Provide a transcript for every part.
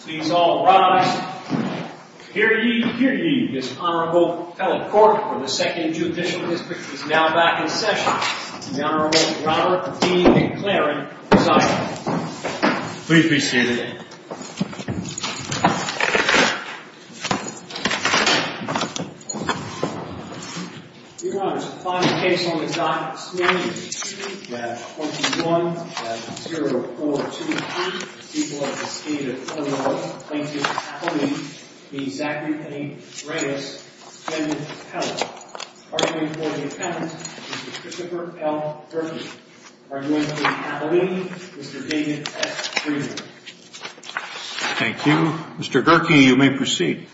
Please all rise. Hear ye, hear ye, this Honorable Fellow Court of the 2nd Judicial District is now back in session. The Honorable Robert D. McLaren presiding. Please be seated. Your Honor, this is the final case on the docket this morning. We have 14-1. We have 0-4-2-3. The people of the State of Illinois plaintiff appellee v. Zachary P. Reyes, defendant appellant. Arguing for the appellant, Mr. Christopher L. Berkey. Arguing for the appellee, Mr. David S. Freeman. Thank you. Mr. Berkey, you may proceed.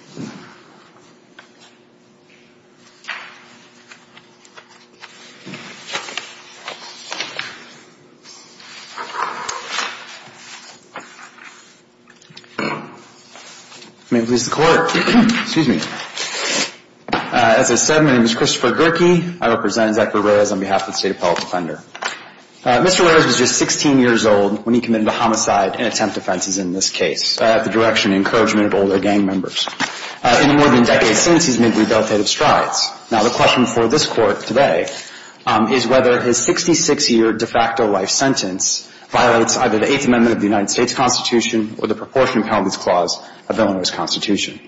May it please the Court. Excuse me. As I said, my name is Christopher Berkey. I represent Zachary Reyes on behalf of the State Appellate Defender. Mr. Reyes was just 16 years old when he committed a homicide in attempt offenses in this case at the direction and encouragement of older gang members. In the more than decade since, he's made rebelitative strides. Now, the question for this Court today is whether his 66-year de facto life sentence violates either the Eighth Amendment of the United States Constitution or the proportionate penalties clause of Illinois' Constitution.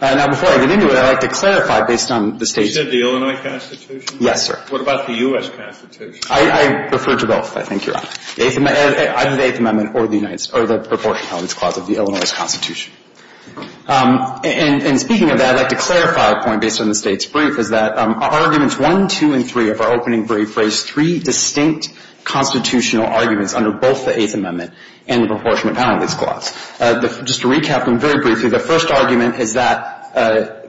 Now, before I get into it, I'd like to clarify based on the State's... You said the Illinois Constitution? Yes, sir. What about the U.S. Constitution? I refer to both, I think you're right. Either the Eighth Amendment or the proportionate penalties clause of the Illinois Constitution. And speaking of that, I'd like to clarify a point based on the State's brief, is that arguments 1, 2, and 3 of our opening brief raised three distinct constitutional arguments under both the Eighth Amendment and the proportionate penalties clause. Just to recap them very briefly, the first argument is that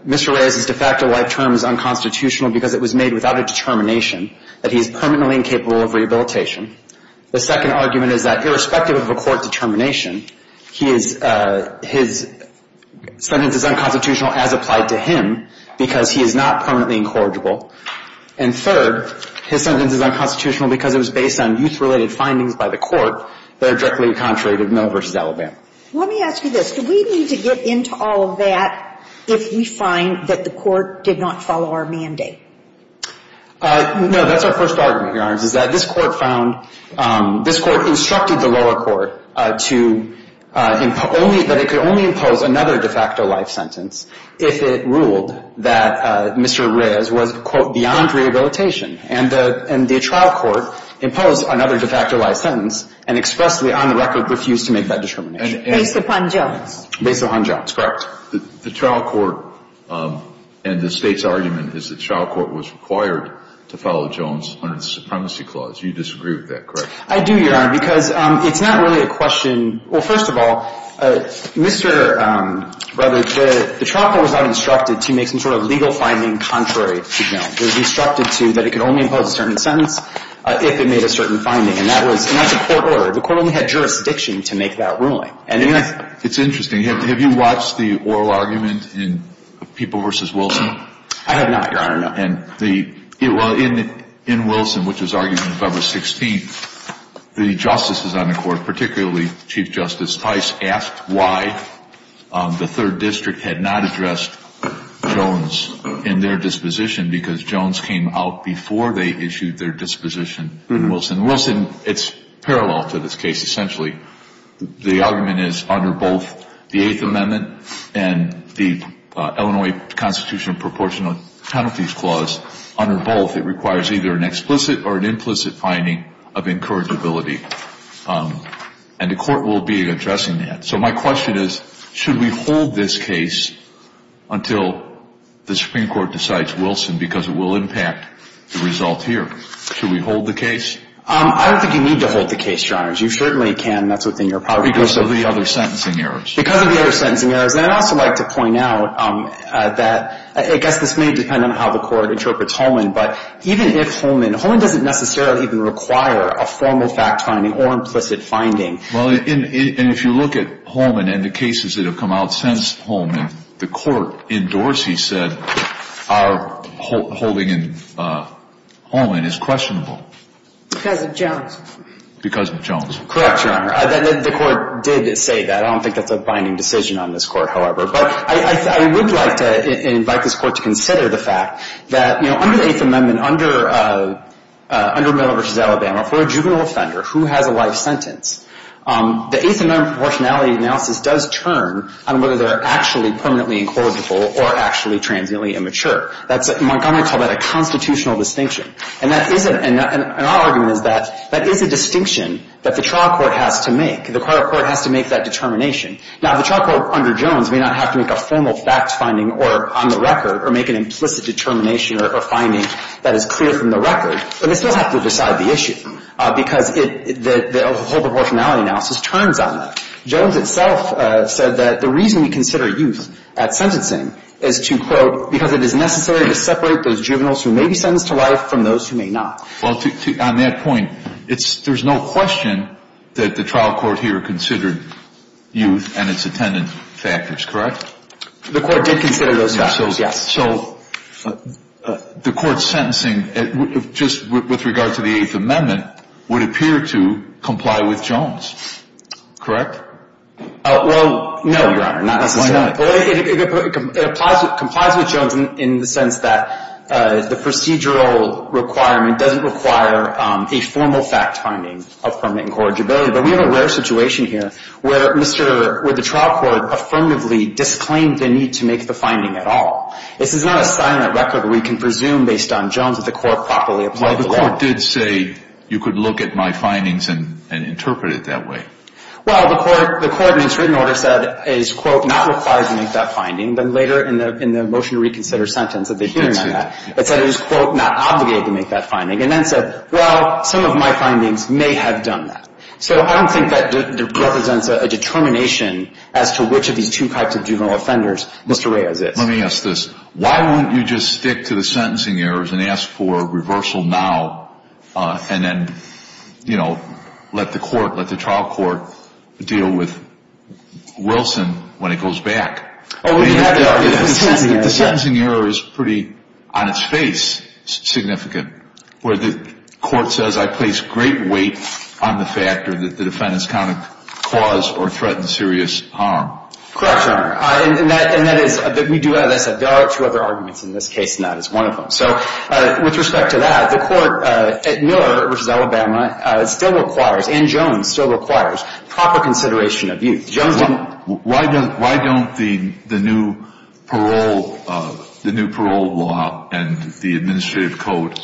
Mr. Reyes' de facto life term is unconstitutional because it was made without a determination that he is permanently incapable of rehabilitation. The second argument is that irrespective of a court determination, his sentence is unconstitutional as applied to him because he is not permanently incorrigible. And third, his sentence is unconstitutional because it was based on youth-related findings by the court that are directly contrary to Mill v. Alabama. Let me ask you this. Do we need to get into all of that if we find that the court did not follow our mandate? No. That's our first argument, Your Honors, is that this court found — this court instructed the lower court to — that it could only impose another de facto life sentence if it ruled that Mr. Reyes was, quote, beyond rehabilitation. And the trial court imposed another de facto life sentence and expressly, on the record, refused to make that determination. Based upon Jones. Based upon Jones, correct. The trial court and the State's argument is the trial court was required to follow Jones under the Supremacy Clause. You disagree with that, correct? I do, Your Honor, because it's not really a question — well, first of all, Mr. — rather, the trial court was not instructed to make some sort of legal finding contrary to Jones. It was instructed to — that it could only impose a certain sentence if it made a certain finding. And that was not the court order. The court only had jurisdiction to make that ruling. And if — It's interesting. Have you watched the oral argument in People v. Wilson? I have not, Your Honor, no. And the — well, in Wilson, which was argued on February 16th, the justices on the court, particularly Chief Justice Tice, asked why the Third District had not addressed Jones in their disposition because Jones came out before they issued their disposition to Wilson. And Wilson — it's parallel to this case, essentially. The argument is under both the Eighth Amendment and the Illinois Constitutional Proportional Penalties Clause, under both it requires either an explicit or an implicit finding of incurred debility. And the court will be addressing that. So my question is, should we hold this case until the Supreme Court decides Wilson because it will impact the result here? Should we hold the case? I don't think you need to hold the case, Your Honors. You certainly can. That's within your power. Because of the other sentencing errors. Because of the other sentencing errors. And I'd also like to point out that I guess this may depend on how the court interprets Holman, but even if Holman — Holman doesn't necessarily even require a formal fact finding or implicit finding. Well, and if you look at Holman and the cases that have come out since Holman, the court endorsed, he said, our holding in Holman is questionable. Because of Jones. Because of Jones. Correct, Your Honor. The court did say that. I don't think that's a binding decision on this Court, however. But I would like to invite this Court to consider the fact that, you know, under the Eighth Amendment, under Miller v. Alabama, for a juvenile offender who has a life sentence, the Eighth Amendment proportionality analysis does turn on whether they're actually permanently incorrigible or actually transiently immature. Montgomery called that a constitutional distinction. And our argument is that that is a distinction that the trial court has to make. The court has to make that determination. Now, the trial court under Jones may not have to make a formal fact finding on the record or make an implicit determination or finding that is clear from the record, but they still have to decide the issue because the whole proportionality analysis turns on that. Jones itself said that the reason we consider youth at sentencing is to, quote, because it is necessary to separate those juveniles who may be sentenced to life from those who may not. Well, on that point, there's no question that the trial court here considered youth and its attendant factors, correct? The court did consider those factors, yes. So the court's sentencing, just with regard to the Eighth Amendment, would appear to comply with Jones, correct? Well, no, Your Honor, not necessarily. Why not? It complies with Jones in the sense that the procedural requirement doesn't require a formal fact finding of permanent incorrigibility. But we have a rare situation here where the trial court affirmatively disclaimed the need to make the finding at all. This is not a silent record. We can presume based on Jones that the court properly applied the law. Well, the court did say you could look at my findings and interpret it that way. Well, the court in its written order said it, quote, not requires to make that finding. Then later in the motion to reconsider sentence of the hearing on that, it said it was, quote, not obligated to make that finding, and then said, well, some of my findings may have done that. So I don't think that represents a determination as to which of these two types of juvenile offenders Mr. Reyes is. Let me ask this. Why won't you just stick to the sentencing errors and ask for reversal now and then, you know, let the court, let the trial court deal with Wilson when it goes back? The sentencing error is pretty, on its face, significant, where the court says I place great weight on the factor that the defendants caused or threatened serious harm. Correct, Your Honor. And that is, we do, there are two other arguments in this case, and that is one of them. So with respect to that, the court at Miller v. Alabama still requires, and Jones still requires, proper consideration of youth. Why don't the new parole law and the administrative code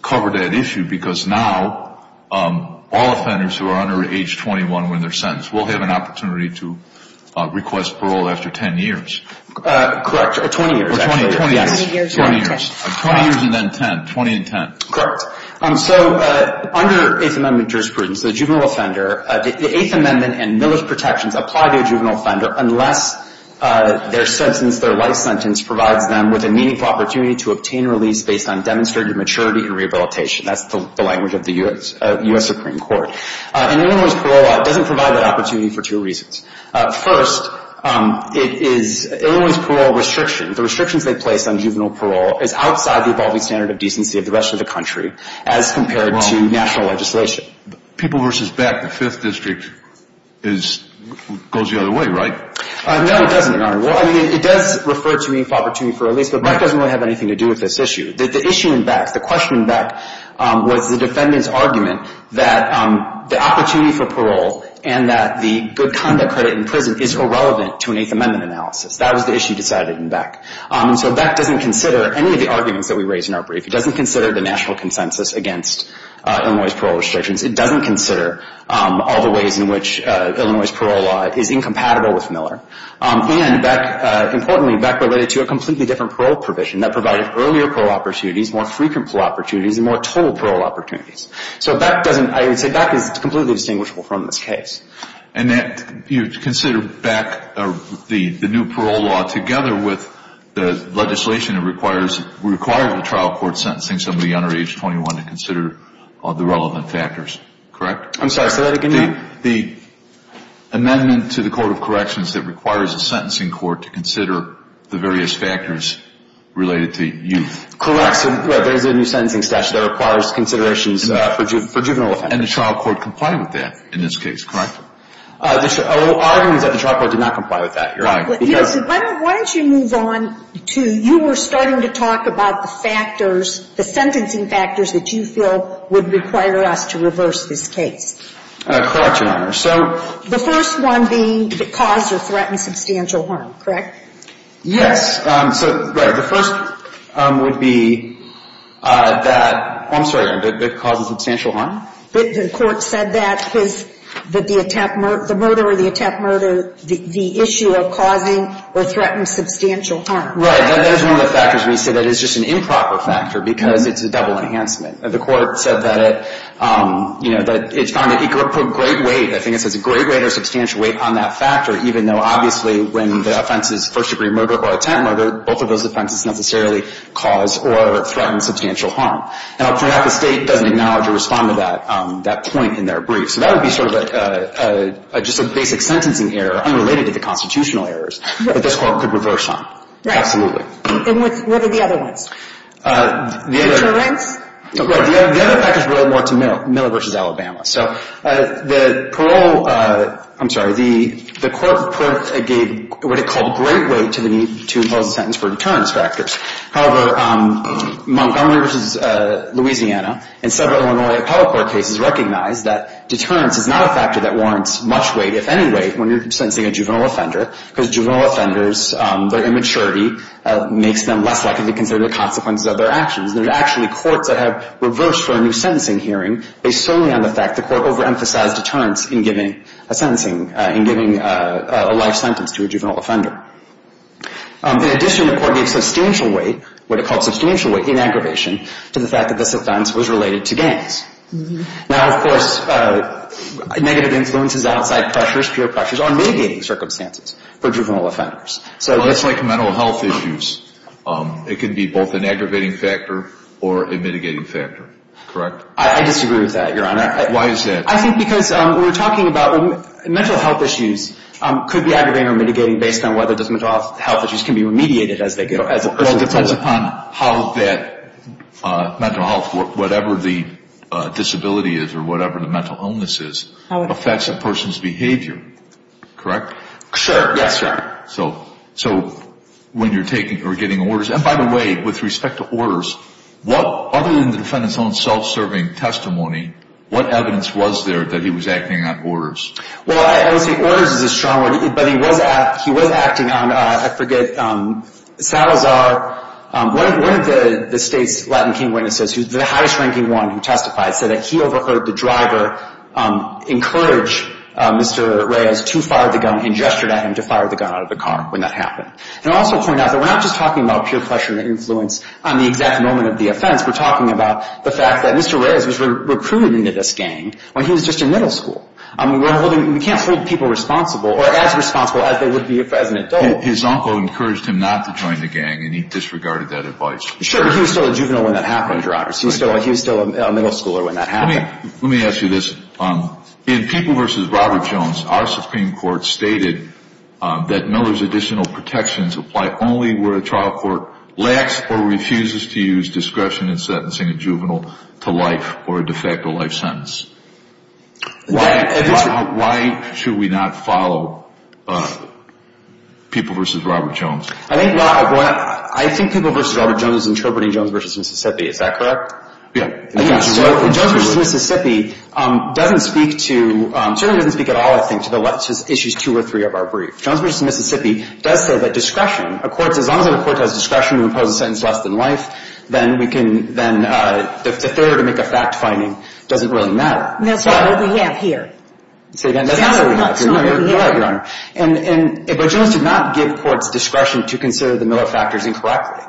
cover that issue? Because now all offenders who are under age 21 when they're sentenced will have an opportunity to request Correct, or 20 years, actually. Or 20 years. 20 years. 20 years and then 10, 20 and 10. Correct. So under Eighth Amendment jurisprudence, the juvenile offender, the Eighth Amendment and Miller's protections apply to a juvenile offender unless their sentence, their life sentence, provides them with a meaningful opportunity to obtain release based on demonstrated maturity and rehabilitation. That's the language of the U.S. Supreme Court. And Illinois' parole law doesn't provide that opportunity for two reasons. First, it is, Illinois' parole restrictions, the restrictions they place on juvenile parole, is outside the evolving standard of decency of the rest of the country as compared to national legislation. People v. Beck, the Fifth District, is, goes the other way, right? No, it doesn't, Your Honor. Well, I mean, it does refer to meaningful opportunity for release, but Beck doesn't really have anything to do with this issue. The issue in Beck, the question in Beck, was the defendant's argument that the opportunity for parole and that the good conduct credit in prison is irrelevant to an Eighth Amendment analysis. That was the issue decided in Beck. And so Beck doesn't consider any of the arguments that we raise in our brief. It doesn't consider the national consensus against Illinois' parole restrictions. It doesn't consider all the ways in which Illinois' parole law is incompatible with Miller. And Beck, importantly, Beck related to a completely different parole provision that provided earlier parole opportunities, more frequent parole opportunities, and more total parole opportunities. So Beck doesn't, I would say Beck is completely distinguishable from this case. And that you consider Beck, the new parole law, together with the legislation that requires, required the trial court sentencing somebody under age 21 to consider the relevant factors, correct? I'm sorry, so that again? The amendment to the Court of Corrections that requires a sentencing court to consider the various factors related to youth. Correct. There is a new sentencing statute that requires considerations for juvenile offenders. And the trial court complied with that in this case, correct? Our argument is that the trial court did not comply with that, Your Honor. Why don't you move on to, you were starting to talk about the factors, the sentencing factors that you feel would require us to reverse this case. Correct, Your Honor. So the first one being that it caused or threatened substantial harm, correct? Yes. So, right, the first would be that, I'm sorry, that it caused substantial harm? The court said that the murder or the attack murder, the issue of causing or threatening substantial harm. Right. That is one of the factors. We say that it's just an improper factor because it's a double enhancement. The court said that it put great weight, I think it says great weight or substantial weight on that factor, even though obviously when the offense is first degree murder or attack murder, both of those offenses necessarily cause or threaten substantial harm. Now, perhaps the state doesn't acknowledge or respond to that point in their brief. So that would be sort of just a basic sentencing error unrelated to the constitutional errors that this court could reverse on. Right. Absolutely. And what are the other ones? The other factors relate more to Miller v. Alabama. So the parole, I'm sorry, the court gave what it called great weight to the need to impose a sentence for deterrence factors. However, Montgomery v. Louisiana and several Illinois appellate court cases recognize that deterrence is not a factor that warrants much weight, if any weight, when you're sentencing a juvenile offender because juvenile offenders, their immaturity makes them less likely to consider the consequences of their actions. There's actually courts that have reversed for a new sentencing hearing based solely on the fact the court overemphasized deterrence in giving a sentencing, in giving a life sentence to a juvenile offender. In addition, the court gave substantial weight, what it called substantial weight in aggravation, to the fact that this offense was related to gangs. Now, of course, negative influences outside pressures, peer pressures, are mitigating circumstances for juvenile offenders. Well, that's like mental health issues. It can be both an aggravating factor or a mitigating factor. Correct? I disagree with that, Your Honor. Why is that? I think because when we're talking about mental health issues, could be aggravating or mitigating based on whether those mental health issues can be remediated as they go. Well, it depends upon how that mental health, whatever the disability is or whatever the mental illness is, affects a person's behavior. Correct? Sure. Yes, sir. So when you're taking or getting orders, and by the way, with respect to orders, other than the defendant's own self-serving testimony, what evidence was there that he was acting on orders? Well, I would say orders is a strong word, but he was acting on, I forget, Salazar, one of the state's Latin King witnesses, the highest-ranking one who testified, said that he overheard the driver encourage Mr. Reyes to fire the gun and gestured at him to fire the gun out of the car when that happened. And I'll also point out that we're not just talking about peer pressure and influence on the exact moment of the offense. We're talking about the fact that Mr. Reyes was recruited into this gang when he was just in middle school. I mean, we can't hold people responsible or as responsible as they would be as an adult. His uncle encouraged him not to join the gang, and he disregarded that advice. Sure, but he was still a juvenile when that happened, Your Honor. He was still a middle schooler when that happened. Let me ask you this. In People v. Robert Jones, our Supreme Court stated that Miller's additional protections apply only where a trial court lacks or refuses to use discretion in sentencing a juvenile to life or a de facto life sentence. Why should we not follow People v. Robert Jones? I think People v. Robert Jones is interpreting Jones v. Mississippi. Is that correct? Yeah. Jones v. Mississippi certainly doesn't speak at all, I think, to issues two or three of our brief. Jones v. Mississippi does say that discretion, as long as the court has discretion to impose a sentence less than life, then the failure to make a fact-finding doesn't really matter. That's not what we have here. Say that again? That's not what we have here. No, Your Honor. But Jones did not give courts discretion to consider the Miller factors incorrectly.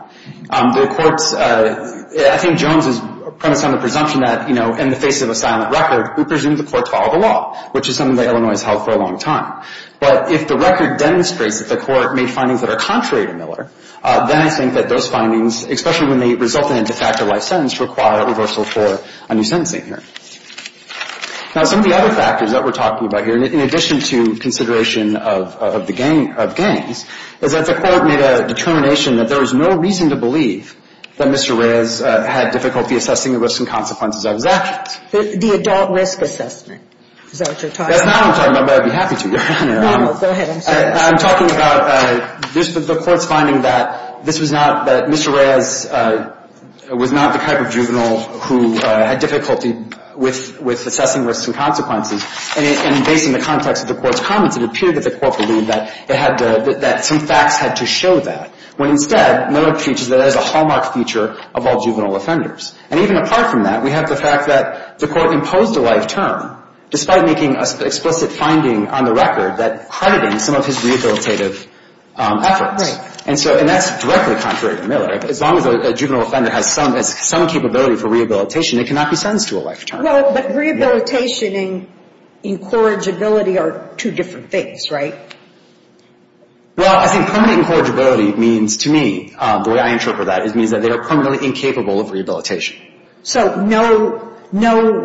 The courts, I think Jones is premised on the presumption that, you know, in the face of a silent record, we presume the court followed the law, which is something that Illinois has held for a long time. But if the record demonstrates that the court made findings that are contrary to Miller, then I think that those findings, especially when they result in a de facto life sentence, require a reversal for a new sentencing hearing. Now, some of the other factors that we're talking about here, in addition to consideration of the gains, is that the court made a determination that there was no reason to believe that Mr. Reyes had difficulty assessing the risks and consequences of his actions. The adult risk assessment. Is that what you're talking about? That's not what I'm talking about, but I'd be happy to, Your Honor. No, go ahead. I'm talking about the court's finding that this was not, that Mr. Reyes was not the type of juvenile who had difficulty with assessing risks and consequences. And based on the context of the court's comments, it appeared that the court believed that it had, that some facts had to show that. When instead, Miller teaches that it is a hallmark feature of all juvenile offenders. And even apart from that, we have the fact that the court imposed a life term, despite making an explicit finding on the record that credited some of his rehabilitative efforts. Right. And so, and that's directly contrary to Miller. As long as a juvenile offender has some capability for rehabilitation, it cannot be sentenced to a life term. Well, but rehabilitation and incorrigibility are two different things, right? Well, I think permanently incorrigibility means to me, the way I interpret that, it means that they are permanently incapable of rehabilitation. So no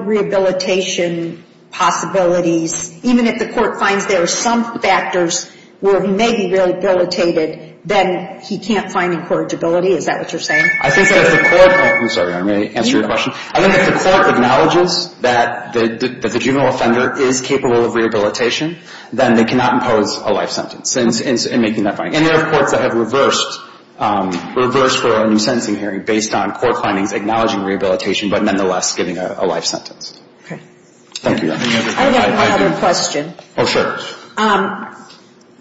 rehabilitation possibilities, even if the court finds there are some factors where he may be rehabilitated, then he can't find incorrigibility, is that what you're saying? I think that the court, I'm sorry, may I answer your question? I think if the court acknowledges that the juvenile offender is capable of rehabilitation, then they cannot impose a life sentence in making that finding. And there are courts that have reversed for a new sentencing hearing based on court findings acknowledging rehabilitation, but nonetheless giving a life sentence. Okay. Thank you. I have one other question. Oh, sure.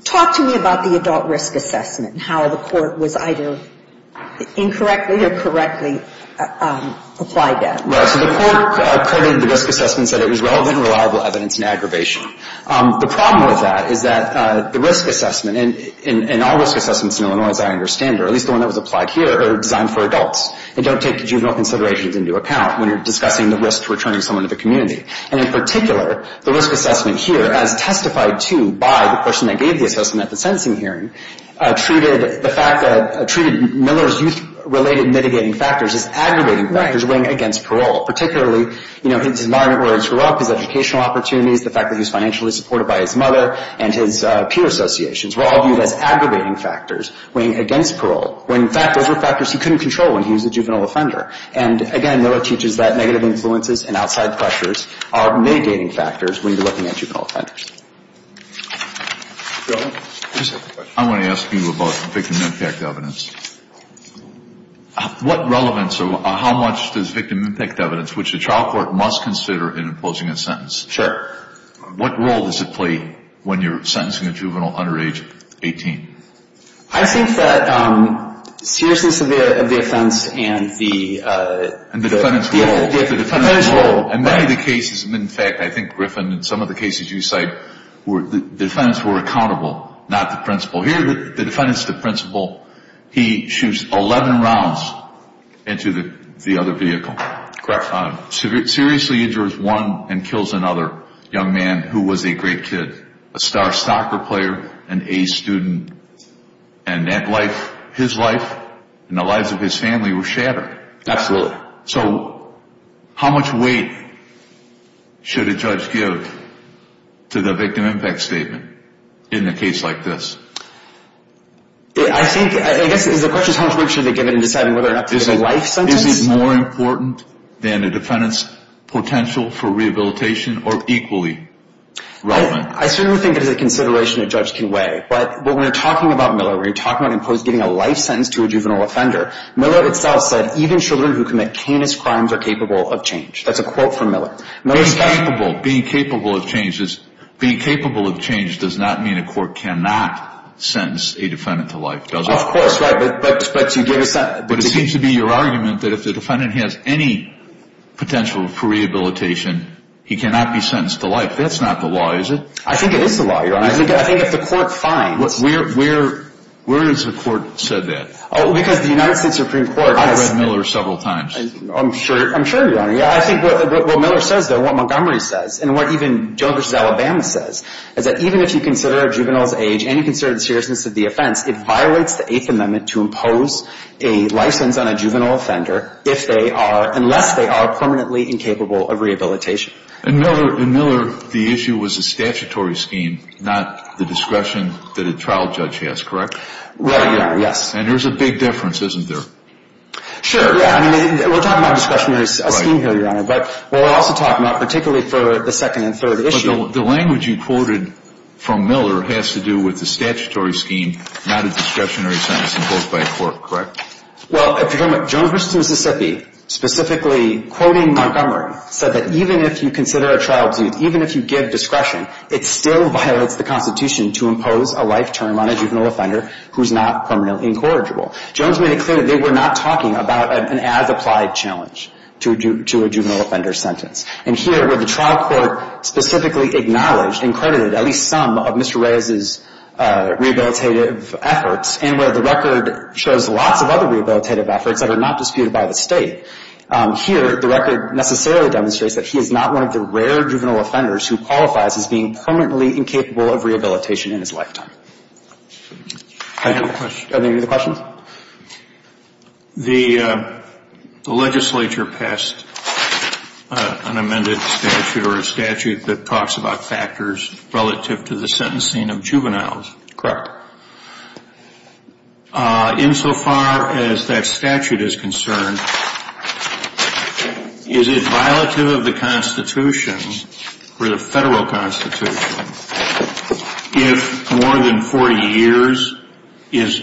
Talk to me about the adult risk assessment and how the court was either incorrectly or correctly applied that. Right. So the court accredited the risk assessment, said it was relevant and reliable evidence in aggravation. The problem with that is that the risk assessment, and all risk assessments in Illinois, as I understand it, or at least the one that was applied here, are designed for adults. They don't take juvenile considerations into account when you're discussing the risk to returning someone to the community. And in particular, the risk assessment here, as testified to by the person that gave the assessment at the sentencing hearing, treated Miller's youth-related mitigating factors as aggravating factors weighing against parole, particularly his environment where he grew up, his educational opportunities, the fact that he was financially supported by his mother, and his peer associations were all viewed as aggravating factors weighing against parole, when in fact those were factors he couldn't control when he was a juvenile offender. And again, Miller teaches that negative influences and outside pressures are mitigating factors when you're looking at juvenile offenders. I want to ask you about victim impact evidence. What relevance or how much does victim impact evidence, which the trial court must consider in imposing a sentence, what role does it play when you're sentencing a juvenile under age 18? I think that seriousness of the offense and the... And the defendant's role. The defendant's role. And many of the cases, and in fact, I think, Griffin, in some of the cases you cite, the defendants were accountable, not the principal. Here the defendant's the principal. He shoots 11 rounds into the other vehicle. Correct. Seriously injures one and kills another young man who was a great kid, a star soccer player, an A student. And that life, his life, and the lives of his family were shattered. Absolutely. So how much weight should a judge give to the victim impact statement in a case like this? I think, I guess the question is how much weight should they give in deciding whether or not to give a life sentence? Is it more important than a defendant's potential for rehabilitation or equally relevant? I certainly think it is a consideration a judge can weigh. But when we're talking about Miller, when we're talking about giving a life sentence to a juvenile offender, Miller itself said, even children who commit heinous crimes are capable of change. That's a quote from Miller. Being capable of change does not mean a court cannot sentence a defendant to life, does it? Of course, right. But to give a sentence... But it seems to be your argument that if the defendant has any potential for rehabilitation, he cannot be sentenced to life. That's not the law, is it? I think it is the law, Your Honor. I think if the court finds... Where has the court said that? Because the United States Supreme Court has... I've read Miller several times. I'm sure, Your Honor. I think what Miller says, though, what Montgomery says, and what even Joe versus Alabama says, is that even if you consider a juvenile's age and you consider the seriousness of the offense, it violates the Eighth Amendment to impose a license on a juvenile offender if they are, unless they are permanently incapable of rehabilitation. In Miller, the issue was a statutory scheme, not the discretion that a trial judge has, correct? Right, Your Honor, yes. And there's a big difference, isn't there? Sure, yeah. I mean, we're talking about a discretionary scheme here, Your Honor. But we're also talking about, particularly for the second and third issue... But the language you quoted from Miller has to do with the statutory scheme, not a discretionary sentence imposed by a court, correct? Well, if you're talking about Jones versus Mississippi, specifically quoting Montgomery, said that even if you consider a trial, even if you give discretion, it still violates the Constitution to impose a life term on a juvenile offender who's not permanently incorrigible. Jones made it clear that they were not talking about an as-applied challenge to a juvenile offender sentence. And here, where the trial court specifically acknowledged and credited at least some of Mr. Reyes's rehabilitative efforts, and where the record shows lots of other rehabilitative efforts that are not disputed by the State, here the record necessarily demonstrates that he is not one of the rare juvenile offenders who qualifies as being permanently incapable of rehabilitation in his lifetime. I have a question. Are there any other questions? The legislature passed an amended statute or a statute that talks about factors relative to the sentencing of juveniles. Correct. Insofar as that statute is concerned, is it violative of the Constitution or the federal Constitution if more than 40 years is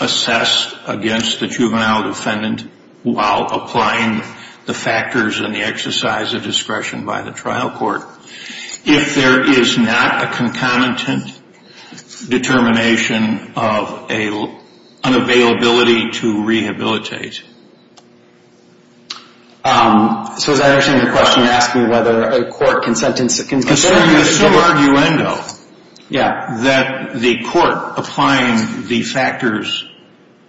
assessed against the juvenile defendant while applying the factors and the exercise of discretion by the trial court? If there is not a concomitant determination of an unavailability to rehabilitate. So is that actually a question asking whether a court can sentence a juvenile? It's a sub-arguendo that the court applying the factors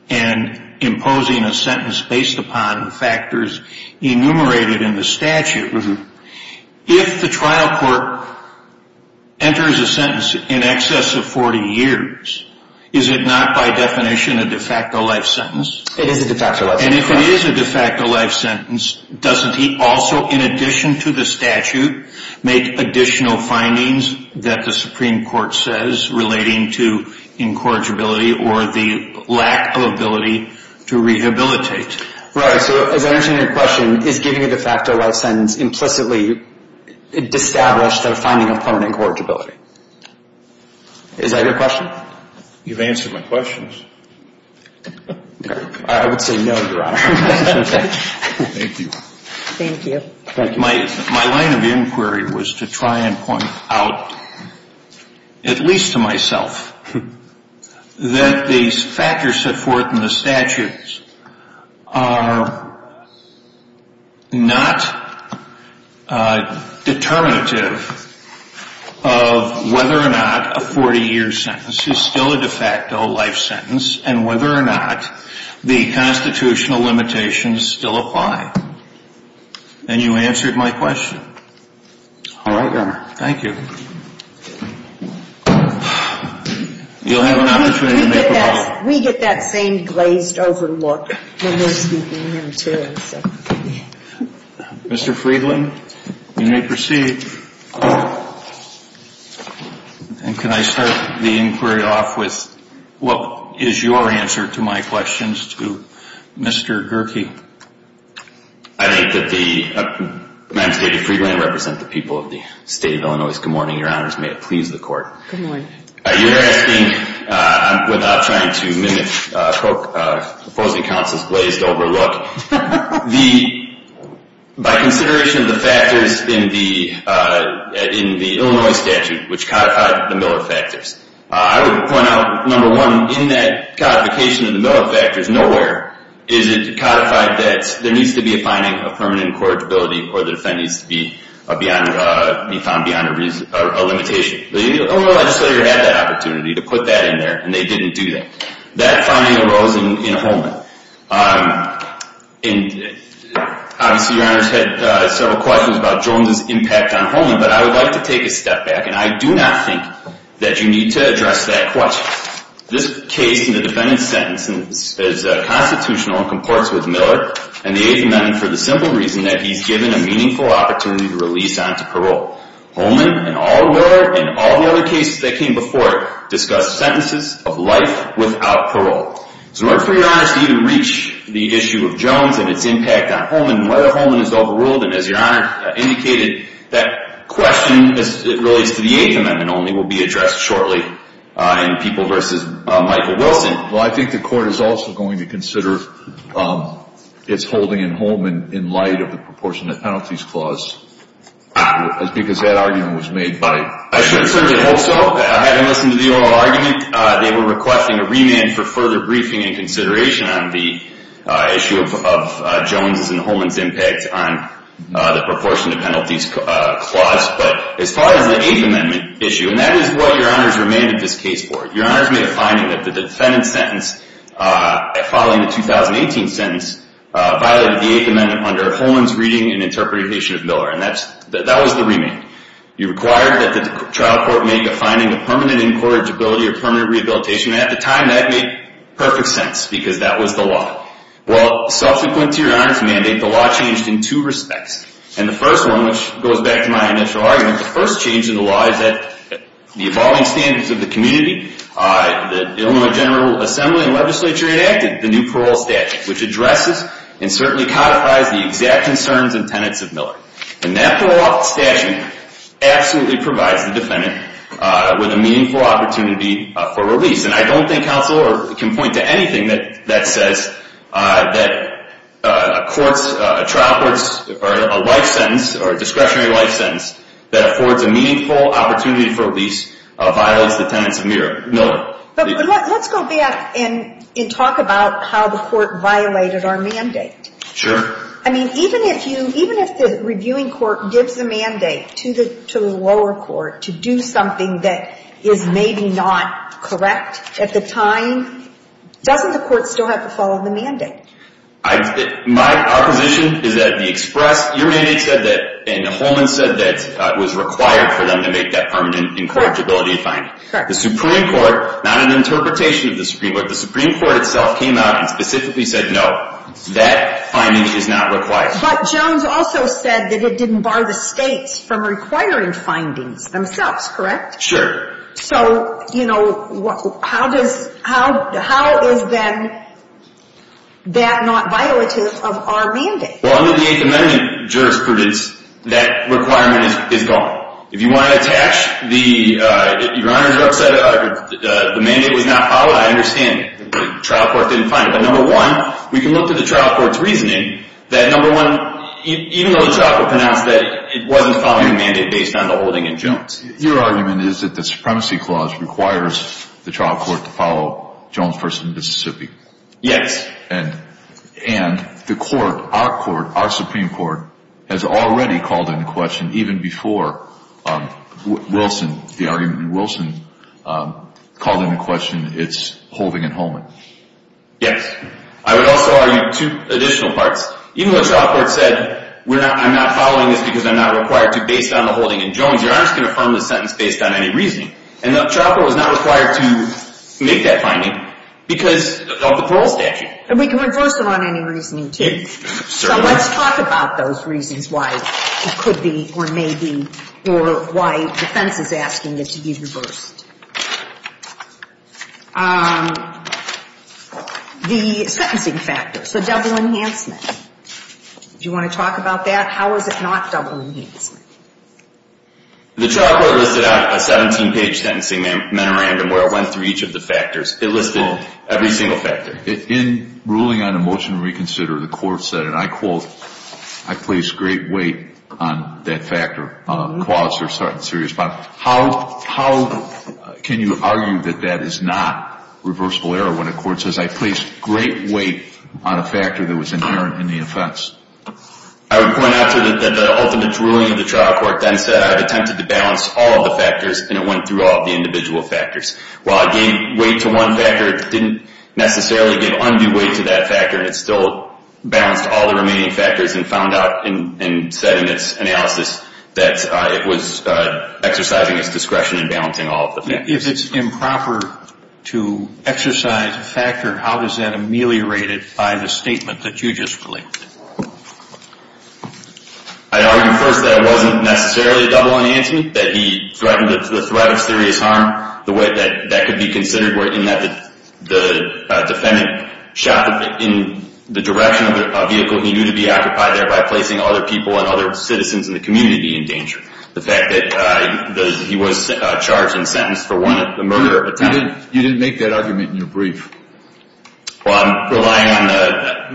and imposing a sentence based upon factors enumerated in the statute. If the trial court enters a sentence in excess of 40 years, is it not by definition a de facto life sentence? It is a de facto life sentence. And if it is a de facto life sentence, doesn't he also, in addition to the statute, make additional findings that the Supreme Court says relating to incorrigibility or the lack of ability to rehabilitate? Right. So as I understand your question, is giving it a de facto life sentence implicitly established a finding of permanent incorrigibility? Is that your question? You've answered my questions. I would say no, Your Honor. Thank you. Thank you. My line of inquiry was to try and point out, at least to myself, that the factors set forth in the statutes are not determinative of whether or not a 40-year sentence is still a de facto life sentence and whether or not the constitutional limitations still apply. And you answered my question. All right, Your Honor. Thank you. You'll have an opportunity to make a point. We get that same glazed-over look when we're speaking here, too. Mr. Friedland, you may proceed. And can I start the inquiry off with what is your answer to my questions to Mr. Gerke? I think that the – Madam State Attorney Friedland, I represent the people of the State of Illinois. May it please the Court. Good morning. You're asking, without trying to mimic opposing counsel's glazed-over look, by consideration of the factors in the Illinois statute which codified the Miller factors, I would point out, number one, in that codification of the Miller factors, nowhere is it codified that there needs to be a finding of permanent incorrigibility or the defendant needs to be found beyond a limitation. The Illinois legislator had that opportunity to put that in there, and they didn't do that. That finding arose in Holman. Obviously, Your Honor's had several questions about Jones' impact on Holman, but I would like to take a step back, and I do not think that you need to address that question. This case in the defendant's sentence is constitutional and comports with Miller, and the Eighth Amendment for the simple reason that he's given a meaningful opportunity to release onto parole. Holman, and all Miller, and all the other cases that came before it, discussed sentences of life without parole. So in order for Your Honor to even reach the issue of Jones and its impact on Holman, and whether Holman is overruled, and as Your Honor indicated, that question, as it relates to the Eighth Amendment only, will be addressed shortly in People v. Michael Wilson. Well, I think the Court is also going to consider its holding in Holman in light of the proportionate penalties clause, because that argument was made by I should certainly hope so. Having listened to the oral argument, they were requesting a remand for further briefing and consideration on the issue of Jones' and Holman's impact on the proportionate penalties clause. But as far as the Eighth Amendment issue, and that is what Your Honor has remained in this case for. Your Honor has made a finding that the defendant's sentence, following the 2018 sentence, violated the Eighth Amendment under Holman's reading and interpretation of Miller. And that was the remand. You required that the trial court make a finding of permanent incorrigibility or permanent rehabilitation. And at the time, that made perfect sense, because that was the law. Well, subsequent to Your Honor's mandate, the law changed in two respects. And the first one, which goes back to my initial argument, the first change in the law is that the evolving standards of the community, the Illinois General Assembly and legislature enacted the new parole statute, which addresses and certainly codifies the exact concerns and tenets of Miller. And that parole statute absolutely provides the defendant with a meaningful opportunity for release. And I don't think counsel can point to anything that says that a trial court's life sentence or discretionary life sentence that affords a meaningful opportunity for release violates the tenets of Miller. But let's go back and talk about how the court violated our mandate. Sure. I mean, even if the reviewing court gives the mandate to the lower court to do something that is maybe not correct at the time, doesn't the court still have to follow the mandate? My opposition is that the express, your mandate said that, and the Holman said that it was required for them to make that permanent incorrigibility finding. Correct. The Supreme Court, not an interpretation of the Supreme Court, the Supreme Court itself came out and specifically said no, that finding is not required. But Jones also said that it didn't bar the states from requiring findings themselves, correct? Sure. So, you know, how does, how is then that not violative of our mandate? Well, under the Eighth Amendment jurisprudence, that requirement is gone. If you want to attach the, your Honor's upset, the mandate was not followed, I understand. The trial court didn't find it. But, number one, we can look to the trial court's reasoning that, number one, even though the trial court pronounced that it wasn't following the mandate based on the holding in Jones. Your argument is that the Supremacy Clause requires the trial court to follow Jones v. Mississippi. Yes. And the court, our court, our Supreme Court, has already called into question, even before Wilson, the argument in Wilson, called into question its holding in Holman. Yes. I would also argue two additional parts. Even though the trial court said, I'm not following this because I'm not required to based on the holding in Jones, your Honor's going to affirm this sentence based on any reasoning. And the trial court was not required to make that finding because of the parole statute. And we can reverse it on any reasoning, too. Certainly. So let's talk about those reasons why it could be, or may be, or why defense is asking it to be reversed. The sentencing factors, the double enhancement. Do you want to talk about that? How is it not double enhancement? The trial court listed out a 17-page sentencing memorandum where it went through each of the factors. It listed every single factor. In ruling on a motion to reconsider, the court said, and I quote, I place great weight on that factor, clause or certain serious bond. How can you argue that that is not reversible error when a court says, I place great weight on a factor that was inherent in the offense? I would point out that the ultimate ruling of the trial court then said, I've attempted to balance all of the factors, and it went through all of the individual factors. While it gave weight to one factor, it didn't necessarily give undue weight to that factor, and it still balanced all the remaining factors and found out and said in its analysis that it was exercising its discretion in balancing all of the factors. If it's improper to exercise a factor, how is that ameliorated by the statement that you just related? I'd argue first that it wasn't necessarily a double enhancement, that he threatened the threat of serious harm. The way that that could be considered were in that the defendant shot in the direction of a vehicle he knew to be occupied there by placing other people and other citizens in the community in danger. The fact that he was charged and sentenced for one of the murder attempts. You didn't make that argument in your brief. Well, I'm relying on that.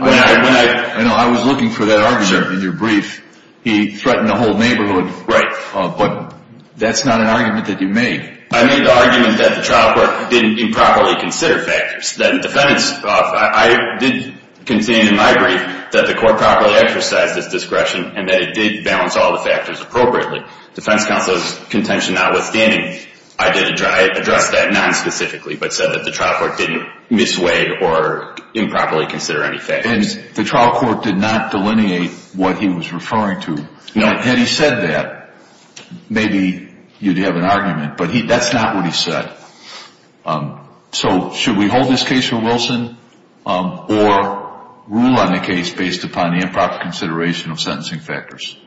When I was looking for that argument in your brief, he threatened the whole neighborhood. Right. But that's not an argument that you made. I made the argument that the trial court didn't improperly consider factors, that the defendant's – I did contain in my brief that the court properly exercised its discretion and that it did balance all the factors appropriately. Defense counsel's contention notwithstanding, I addressed that nonspecifically, but said that the trial court didn't misweight or improperly consider any factors. And the trial court did not delineate what he was referring to. No. Had he said that, maybe you'd have an argument. But that's not what he said. So should we hold this case for Wilson or rule on the case based upon the improper consideration of sentencing factors?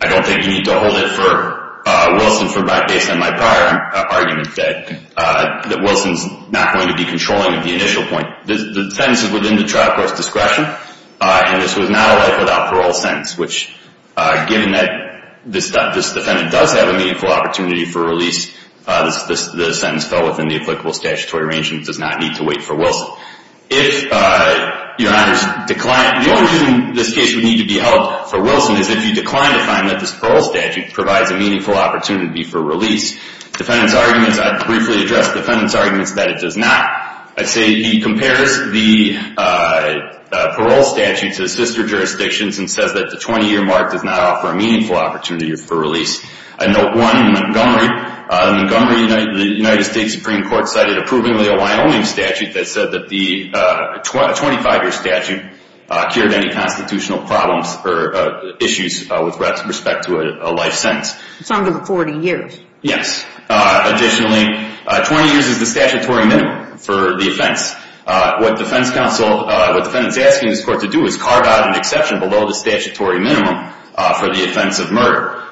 I don't think you need to hold it for Wilson based on my prior argument that Wilson's not going to be controlling at the initial point. The sentence is within the trial court's discretion, and this was not a life without parole sentence, which given that this defendant does have a meaningful opportunity for release, the sentence fell within the applicable statutory range and does not need to wait for Wilson. If your honors decline – the only reason this case would need to be held for Wilson is if you decline to find that this parole statute provides a meaningful opportunity for release. Defendant's arguments – I briefly addressed defendant's arguments that it does not. I'd say he compares the parole statute to sister jurisdictions and says that the 20-year mark does not offer a meaningful opportunity for release. Note one in Montgomery. In Montgomery, the United States Supreme Court cited approvingly a Wyoming statute that said that the 25-year statute cured any constitutional problems or issues with respect to a life sentence. It's under the 40 years. Yes. Additionally, 20 years is the statutory minimum for the offense. What defendant's asking this court to do is carve out an exception below the statutory minimum for the offense of murder.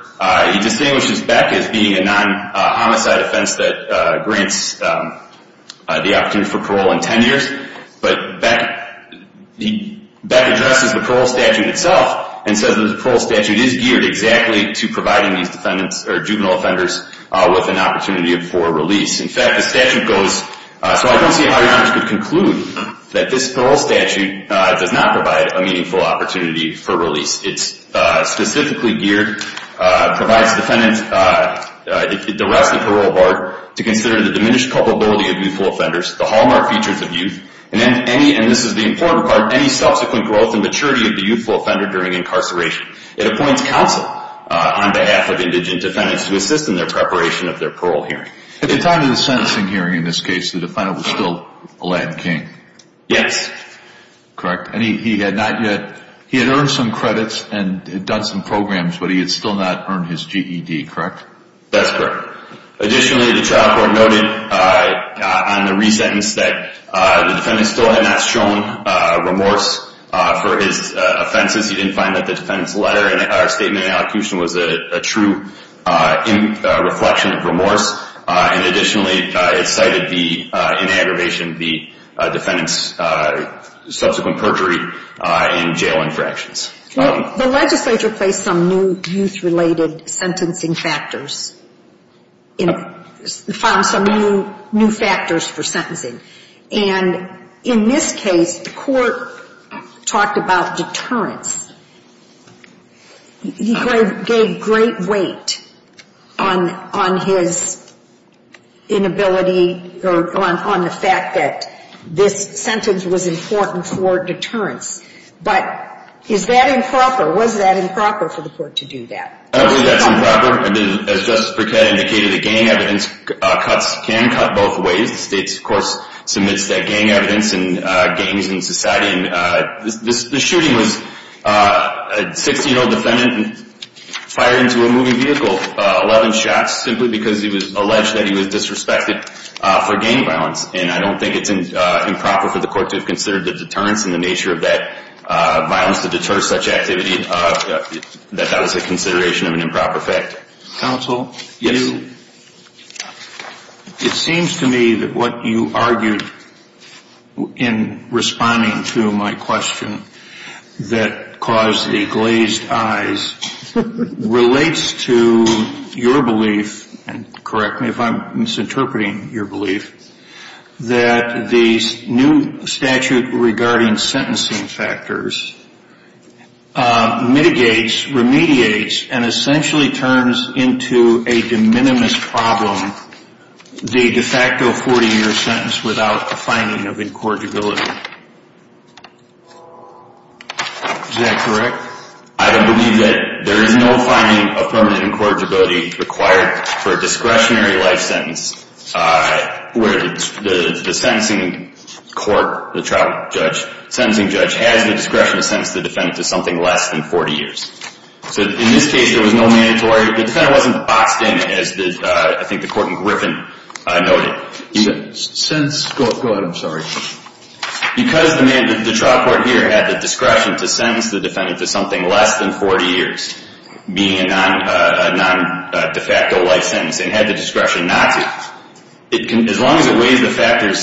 He distinguishes Beck as being a non-homicide offense that grants the opportunity for parole in 10 years, but Beck addresses the parole statute itself and says that the parole statute is geared exactly to providing these juvenile offenders with an opportunity for release. In fact, the statute goes – so I don't see how your honors could conclude that this parole statute does not provide a meaningful opportunity for release. It's specifically geared, provides defendants, the rest of the parole board, to consider the diminished culpability of youthful offenders, the hallmark features of youth, and this is the important part, any subsequent growth and maturity of the youthful offender during incarceration. It appoints counsel on behalf of indigent defendants to assist in their preparation of their parole hearing. At the time of the sentencing hearing in this case, the defendant was still a Latin King. Yes. Correct. And he had not yet – he had earned some credits and had done some programs, but he had still not earned his GED, correct? That's correct. Additionally, the trial court noted on the re-sentence that the defendant still had not shown remorse for his offenses. He didn't find that the defendant's letter and statement and allocution was a true reflection of remorse. And additionally, it cited the inaggravation of the defendant's subsequent perjury in jail infractions. The legislature placed some new youth-related sentencing factors and found some new factors for sentencing. And in this case, the court talked about deterrence. He gave great weight on his inability or on the fact that this sentence was important for deterrence. But is that improper? Was that improper for the court to do that? I believe that's improper. As Justice Brickett indicated, the gang evidence cuts can cut both ways. The state, of course, submits that gang evidence and gangs in society. The shooting was a 16-year-old defendant fired into a moving vehicle, 11 shots, simply because he was alleged that he was disrespected for gang violence. And I don't think it's improper for the court to have considered the deterrence and the nature of that violence to deter such activity, that that was a consideration of an improper fact. Counsel? Yes. It seems to me that what you argued in responding to my question that caused the glazed eyes relates to your belief, and correct me if I'm misinterpreting your belief, that the new statute regarding sentencing factors mitigates, remediates, and essentially turns into a de minimis problem the de facto 40-year sentence without a finding of incorrigibility. Is that correct? I would believe that there is no finding of permanent incorrigibility required for a discretionary life sentence where the sentencing court, the trial judge, has the discretion to sentence the defendant to something less than 40 years. So in this case, there was no mandatory. The defendant wasn't boxed in, as I think the court in Griffin noted. Go ahead, I'm sorry. Because the trial court here had the discretion to sentence the defendant to something less than 40 years, meaning a non-de facto life sentence, and had the discretion not to, as long as it weighs the factors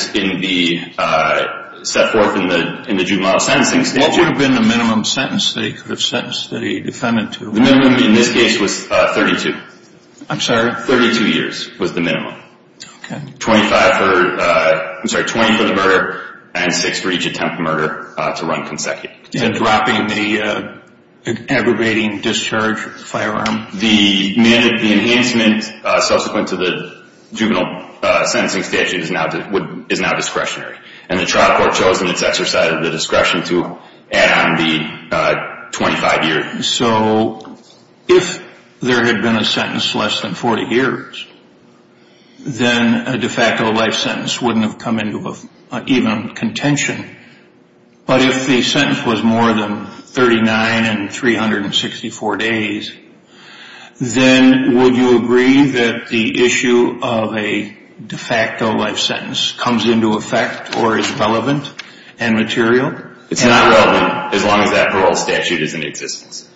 set forth in the juvenile sentencing statute. What would have been the minimum sentence that he could have sentenced the defendant to? The minimum in this case was 32. I'm sorry? Thirty-two years was the minimum. Okay. Twenty-five for the murder, and six for each attempt at murder to run consecutive. And dropping the aggravating discharge firearm? The enhancement subsequent to the juvenile sentencing statute is now discretionary, and the trial court chose in its exercise of the discretion to add on the 25-year. So if there had been a sentence less than 40 years, then a de facto life sentence wouldn't have come into even contention. But if the sentence was more than 39 and 364 days, then would you agree that the issue of a de facto life sentence comes into effect or is relevant and material? It's not relevant as long as that parole statute is in existence.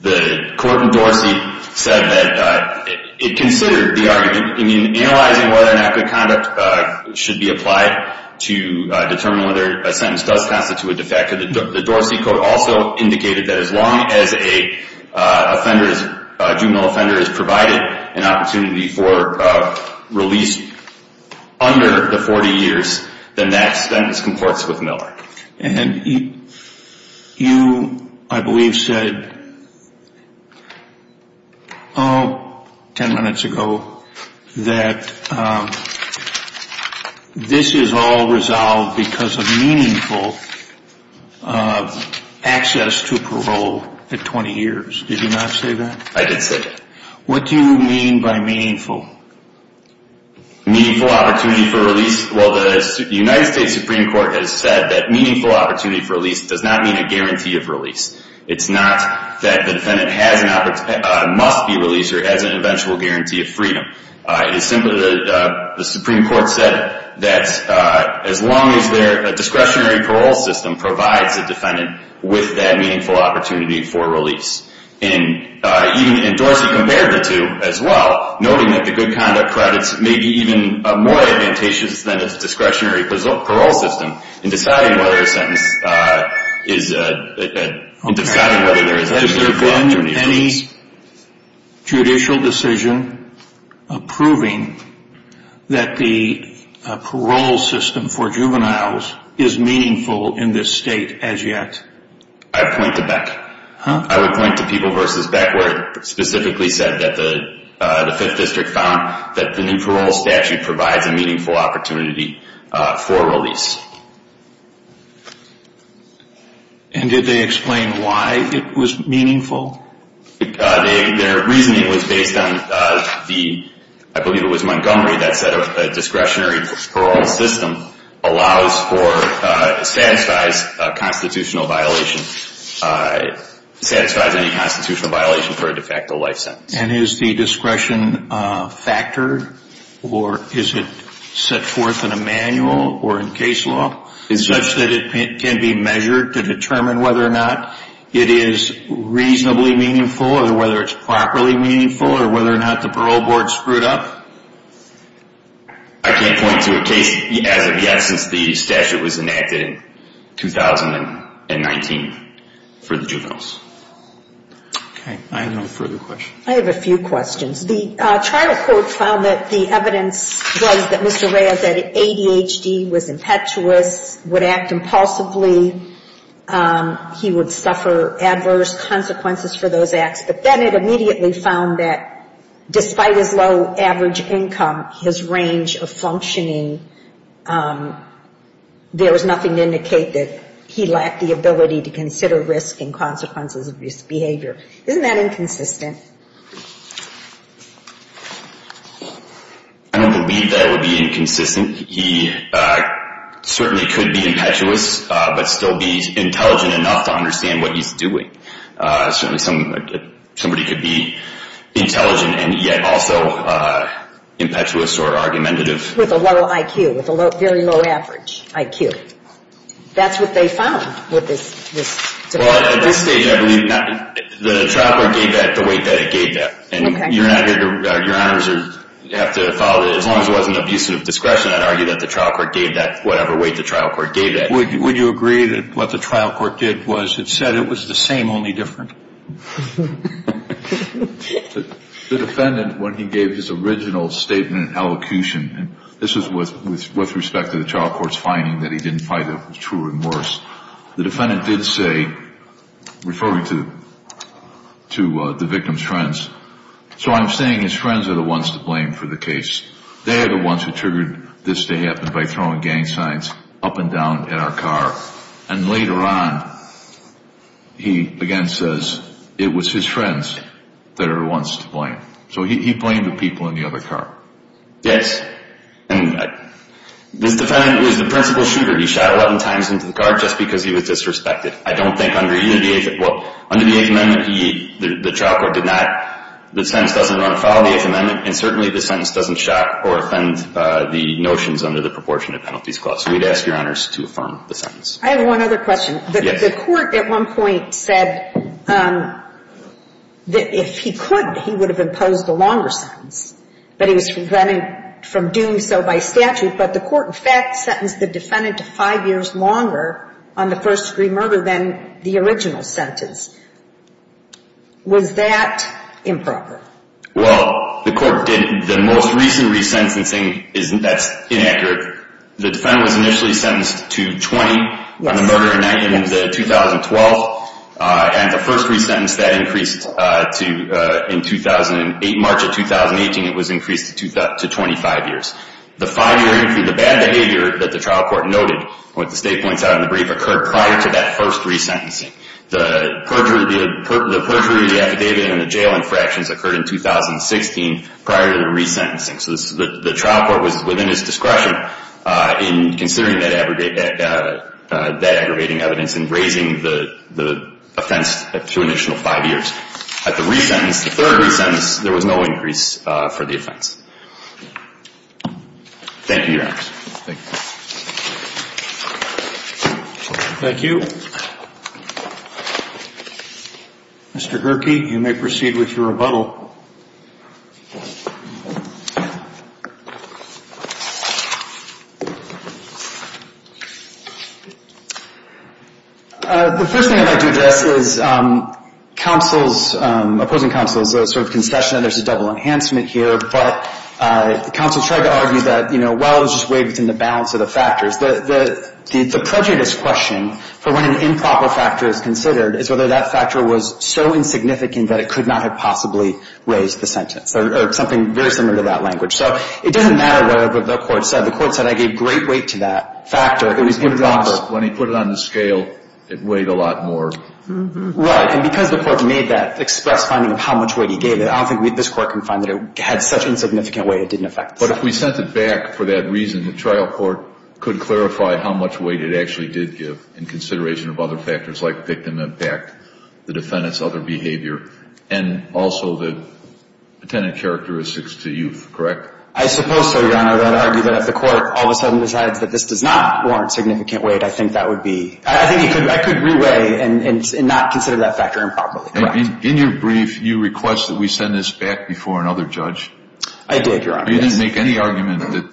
The court in Dorsey said that it considered the argument, analyzing whether or not good conduct should be applied to determine whether a sentence does constitute a de facto. The Dorsey code also indicated that as long as a juvenile offender is provided an opportunity for release under the 40 years, then that sentence comports with MILAC. And you, I believe, said 10 minutes ago that this is all resolved because of meaningful access to parole at 20 years. Did you not say that? I did say that. What do you mean by meaningful? Meaningful opportunity for release? Well, the United States Supreme Court has said that meaningful opportunity for release does not mean a guarantee of release. It's not that the defendant must be released or has an eventual guarantee of freedom. It's simply that the Supreme Court said that as long as their discretionary parole system provides the defendant with that meaningful opportunity for release. And Dorsey compared the two as well, noting that the good conduct credits may be even more advantageous than its discretionary parole system in deciding whether a sentence is, in deciding whether there is a de facto opportunity for release. Has there been any judicial decision approving that the parole system for juveniles is meaningful in this state as yet? I'd point to Beck. I would point to People v. Beck where it specifically said that the 5th District found that the new parole statute provides a meaningful opportunity for release. And did they explain why it was meaningful? Their reasoning was based on the, I believe it was Montgomery that said a discretionary parole system allows for, satisfies a constitutional violation, satisfies any constitutional violation for a de facto life sentence. And is the discretion factored or is it set forth in a manual or in case law such that it can be measured to determine whether or not it is reasonably meaningful or whether it's properly meaningful or whether or not the parole board screwed up? I can't point to a case as of yet since the statute was enacted in 2019 for the juveniles. Okay. I have no further questions. I have a few questions. The trial court found that the evidence was that Mr. Rhea, that ADHD was impetuous, would act impulsively. He would suffer adverse consequences for those acts. But then it immediately found that despite his low average income, his range of functioning, there was nothing to indicate that he lacked the ability to consider risk and consequences of his behavior. Isn't that inconsistent? I don't believe that would be inconsistent. He certainly could be impetuous but still be intelligent enough to understand what he's doing. Certainly somebody could be intelligent and yet also impetuous or argumentative. With a low IQ, with a very low average IQ. That's what they found with this debate. Well, at this stage, I believe not. The trial court gave that the way that it gave that. Okay. And you're not here to – your honors have to follow that. As long as it wasn't abuse of discretion, I'd argue that the trial court gave that whatever way the trial court gave that. Would you agree that what the trial court did was it said it was the same, only different? The defendant, when he gave his original statement and elocution, and this was with respect to the trial court's finding that he didn't fight a true remorse, the defendant did say, referring to the victim's friends, so I'm saying his friends are the ones to blame for the case. They are the ones who triggered this to happen by throwing gang signs up and down at our car. And later on, he again says it was his friends that are the ones to blame. So he blamed the people in the other car. Yes. And this defendant was the principal shooter. He shot 11 times into the car just because he was disrespected. I don't think under – well, under the Eighth Amendment, the trial court did not – Well, under the Eighth Amendment, and certainly the sentence doesn't shock or offend the notions under the proportionate penalties clause. So we'd ask Your Honors to affirm the sentence. I have one other question. Yes. The court at one point said that if he could, he would have imposed a longer sentence, but he was prevented from doing so by statute. But the court, in fact, sentenced the defendant to five years longer on the first-degree murder than the original sentence. Was that improper? Well, the court did – the most recent resentencing, that's inaccurate. The defendant was initially sentenced to 20 on the murder in 2012, and the first resentence that increased to – in 2008, March of 2018, it was increased to 25 years. The five-year increase, the bad behavior that the trial court noted, what the State points out in the brief, occurred prior to that first resentencing. The perjury of the affidavit and the jail infractions occurred in 2016 prior to the resentencing. So the trial court was within its discretion in considering that aggravating evidence and raising the offense to an additional five years. At the resentence, the third resentence, there was no increase for the offense. Thank you, Your Honors. Thank you. Thank you. Mr. Gerke, you may proceed with your rebuttal. The first thing I'd like to address is counsel's – opposing counsel's sort of concession that there's a double enhancement here. But counsel tried to argue that, you know, well, it was just weighed within the balance of the factors. The prejudice question for when an improper factor is considered is whether that factor was so insignificant that it could not have possibly raised the sentence or something very similar to that language. So it doesn't matter what the court said. The court said I gave great weight to that factor. It was improper. When he put it on the scale, it weighed a lot more. Right. And because the court made that express finding of how much weight he gave it, I don't think this court can find that it had such insignificant weight it didn't affect the sentence. But if we sent it back for that reason, the trial court could clarify how much weight it actually did give in consideration of other factors like victim impact, the defendant's other behavior, and also the attendant characteristics to youth, correct? I suppose so, Your Honor. I would argue that if the court all of a sudden decides that this does not warrant significant weight, I think that would be – I think I could re-weigh and not consider that factor improperly. Correct. In your brief, you request that we send this back before another judge. I did, Your Honor. You didn't make any argument that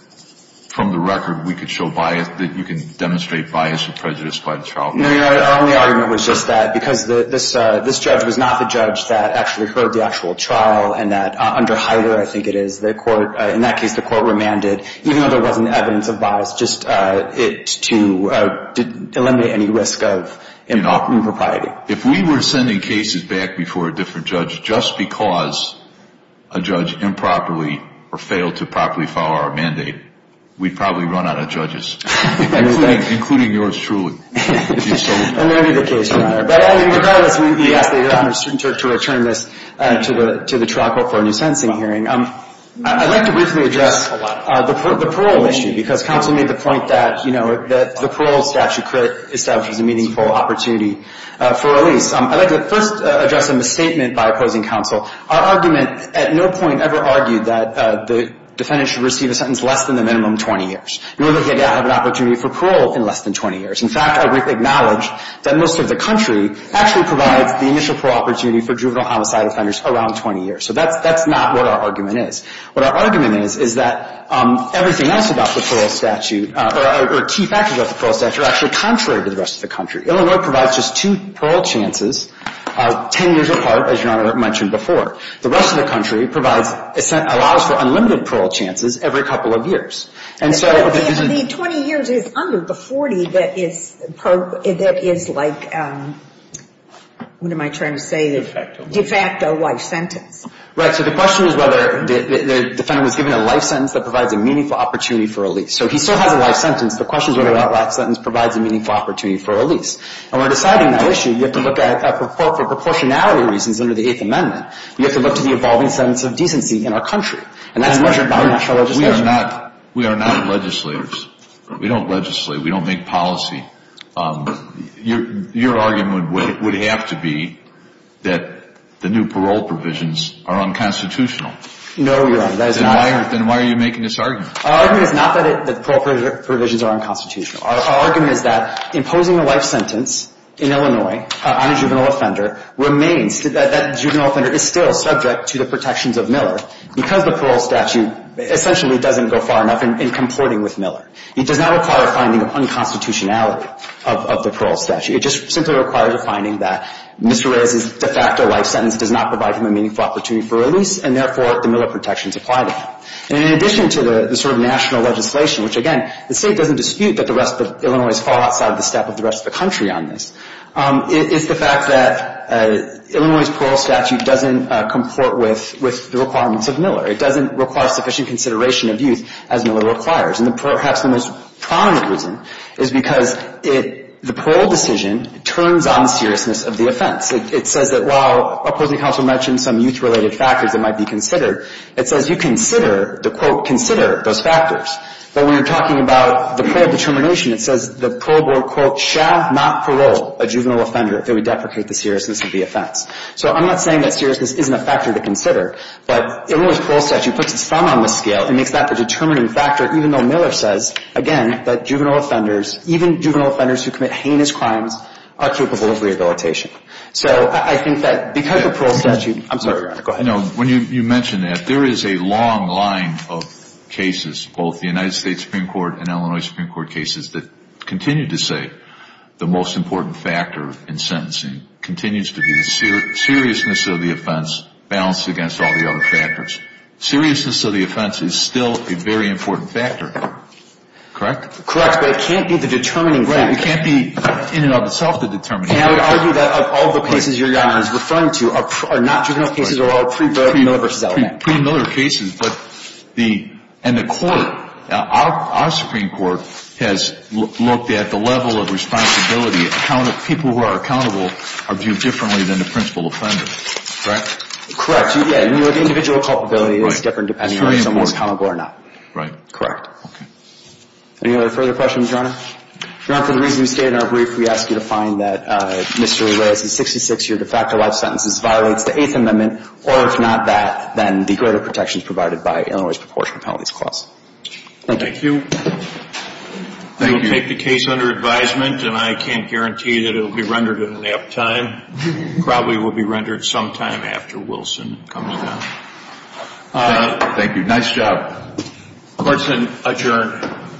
from the record we could show bias, that you can demonstrate bias or prejudice by the trial court? No, Your Honor. Our only argument was just that because this judge was not the judge that actually heard the actual trial and that under Hyder, I think it is, the court – in that case, the court remanded, even though there wasn't evidence of bias, just to eliminate any risk of impropriety. If we were sending cases back before a different judge just because a judge improperly or failed to properly follow our mandate, we'd probably run out of judges, including yours truly. And that would be the case, Your Honor. But regardless, we ask that Your Honor return this to the trial court for a new sentencing hearing. I'd like to briefly address the parole issue because counsel made the point that, you know, that the parole statute could establish a meaningful opportunity for release. I'd like to first address a misstatement by opposing counsel. Our argument at no point ever argued that the defendant should receive a sentence less than the minimum 20 years. You really can't have an opportunity for parole in less than 20 years. In fact, I would acknowledge that most of the country actually provides the initial parole opportunity for juvenile homicide offenders around 20 years. So that's not what our argument is. What our argument is, is that everything else about the parole statute or key factors about the parole statute are actually contrary to the rest of the country. Illinois provides just two parole chances 10 years apart, as Your Honor mentioned before. The rest of the country provides, allows for unlimited parole chances every couple of years. And so the 20 years is under the 40 that is like, what am I trying to say? De facto life sentence. Right, so the question is whether the defendant was given a life sentence that provides a meaningful opportunity for release. So he still has a life sentence. The question is whether that life sentence provides a meaningful opportunity for release. And when deciding that issue, you have to look at, for proportionality reasons under the Eighth Amendment, you have to look to the evolving sense of decency in our country. And that's measured by national legislation. We are not legislators. We don't legislate. We don't make policy. Your argument would have to be that the new parole provisions are unconstitutional. No, Your Honor. Then why are you making this argument? Our argument is not that the parole provisions are unconstitutional. Our argument is that imposing a life sentence in Illinois on a juvenile offender remains, that juvenile offender is still subject to the protections of Miller because the parole statute essentially doesn't go far enough in comporting with Miller. It does not require a finding of unconstitutionality of the parole statute. It just simply requires a finding that Mr. Reyes's de facto life sentence does not provide him a meaningful opportunity for release, and therefore the Miller protections apply to him. And in addition to the sort of national legislation, which, again, the State doesn't dispute that the rest of Illinois is far outside the step of the rest of the country on this, is the fact that Illinois' parole statute doesn't comport with the requirements of Miller. It doesn't require sufficient consideration of youth as Miller requires. And perhaps the most prominent reason is because the parole decision turns on the seriousness of the offense. It says that while opposing counsel mentioned some youth-related factors that might be considered, it says you consider, the quote, consider those factors. But when you're talking about the parole determination, it says the parole board, quote, shall not parole a juvenile offender if they would deprecate the seriousness of the offense. So I'm not saying that seriousness isn't a factor to consider, but Illinois' parole statute puts its thumb on the scale and makes that the determining factor, even though Miller says, again, that juvenile offenders, even juvenile offenders who commit heinous crimes, are capable of rehabilitation. So I think that because the parole statute, I'm sorry, go ahead. No, when you mention that, there is a long line of cases, both the United States Supreme Court and Illinois Supreme Court cases, that continue to say the most important factor in sentencing continues to be the seriousness of the offense balanced against all the other factors. Seriousness of the offense is still a very important factor. Correct? Correct. But it can't be the determining factor. Right. It can't be in and of itself the determining factor. And I would argue that of all the cases your Honor is referring to, are not juvenile cases, are all pre-Miller v. LMAC. Pre-Miller cases, but the, and the court, our Supreme Court, has looked at the level of responsibility. People who are accountable are viewed differently than the principal offender. Correct? Correct. The individual culpability is different depending on if someone is accountable or not. Right. Correct. Any other further questions, Your Honor? Your Honor, for the reason we stated in our brief, we ask you to find that Mr. Urias's 66-year de facto life sentences violates the Eighth Amendment, or if not that, then the greater protections provided by Illinois's proportionate penalties clause. Thank you. Thank you. We will take the case under advisement, and I can't guarantee that it will be rendered in an apt time. It probably will be rendered sometime after Wilson comes down. Thank you. Thank you. Nice job. Court is adjourned.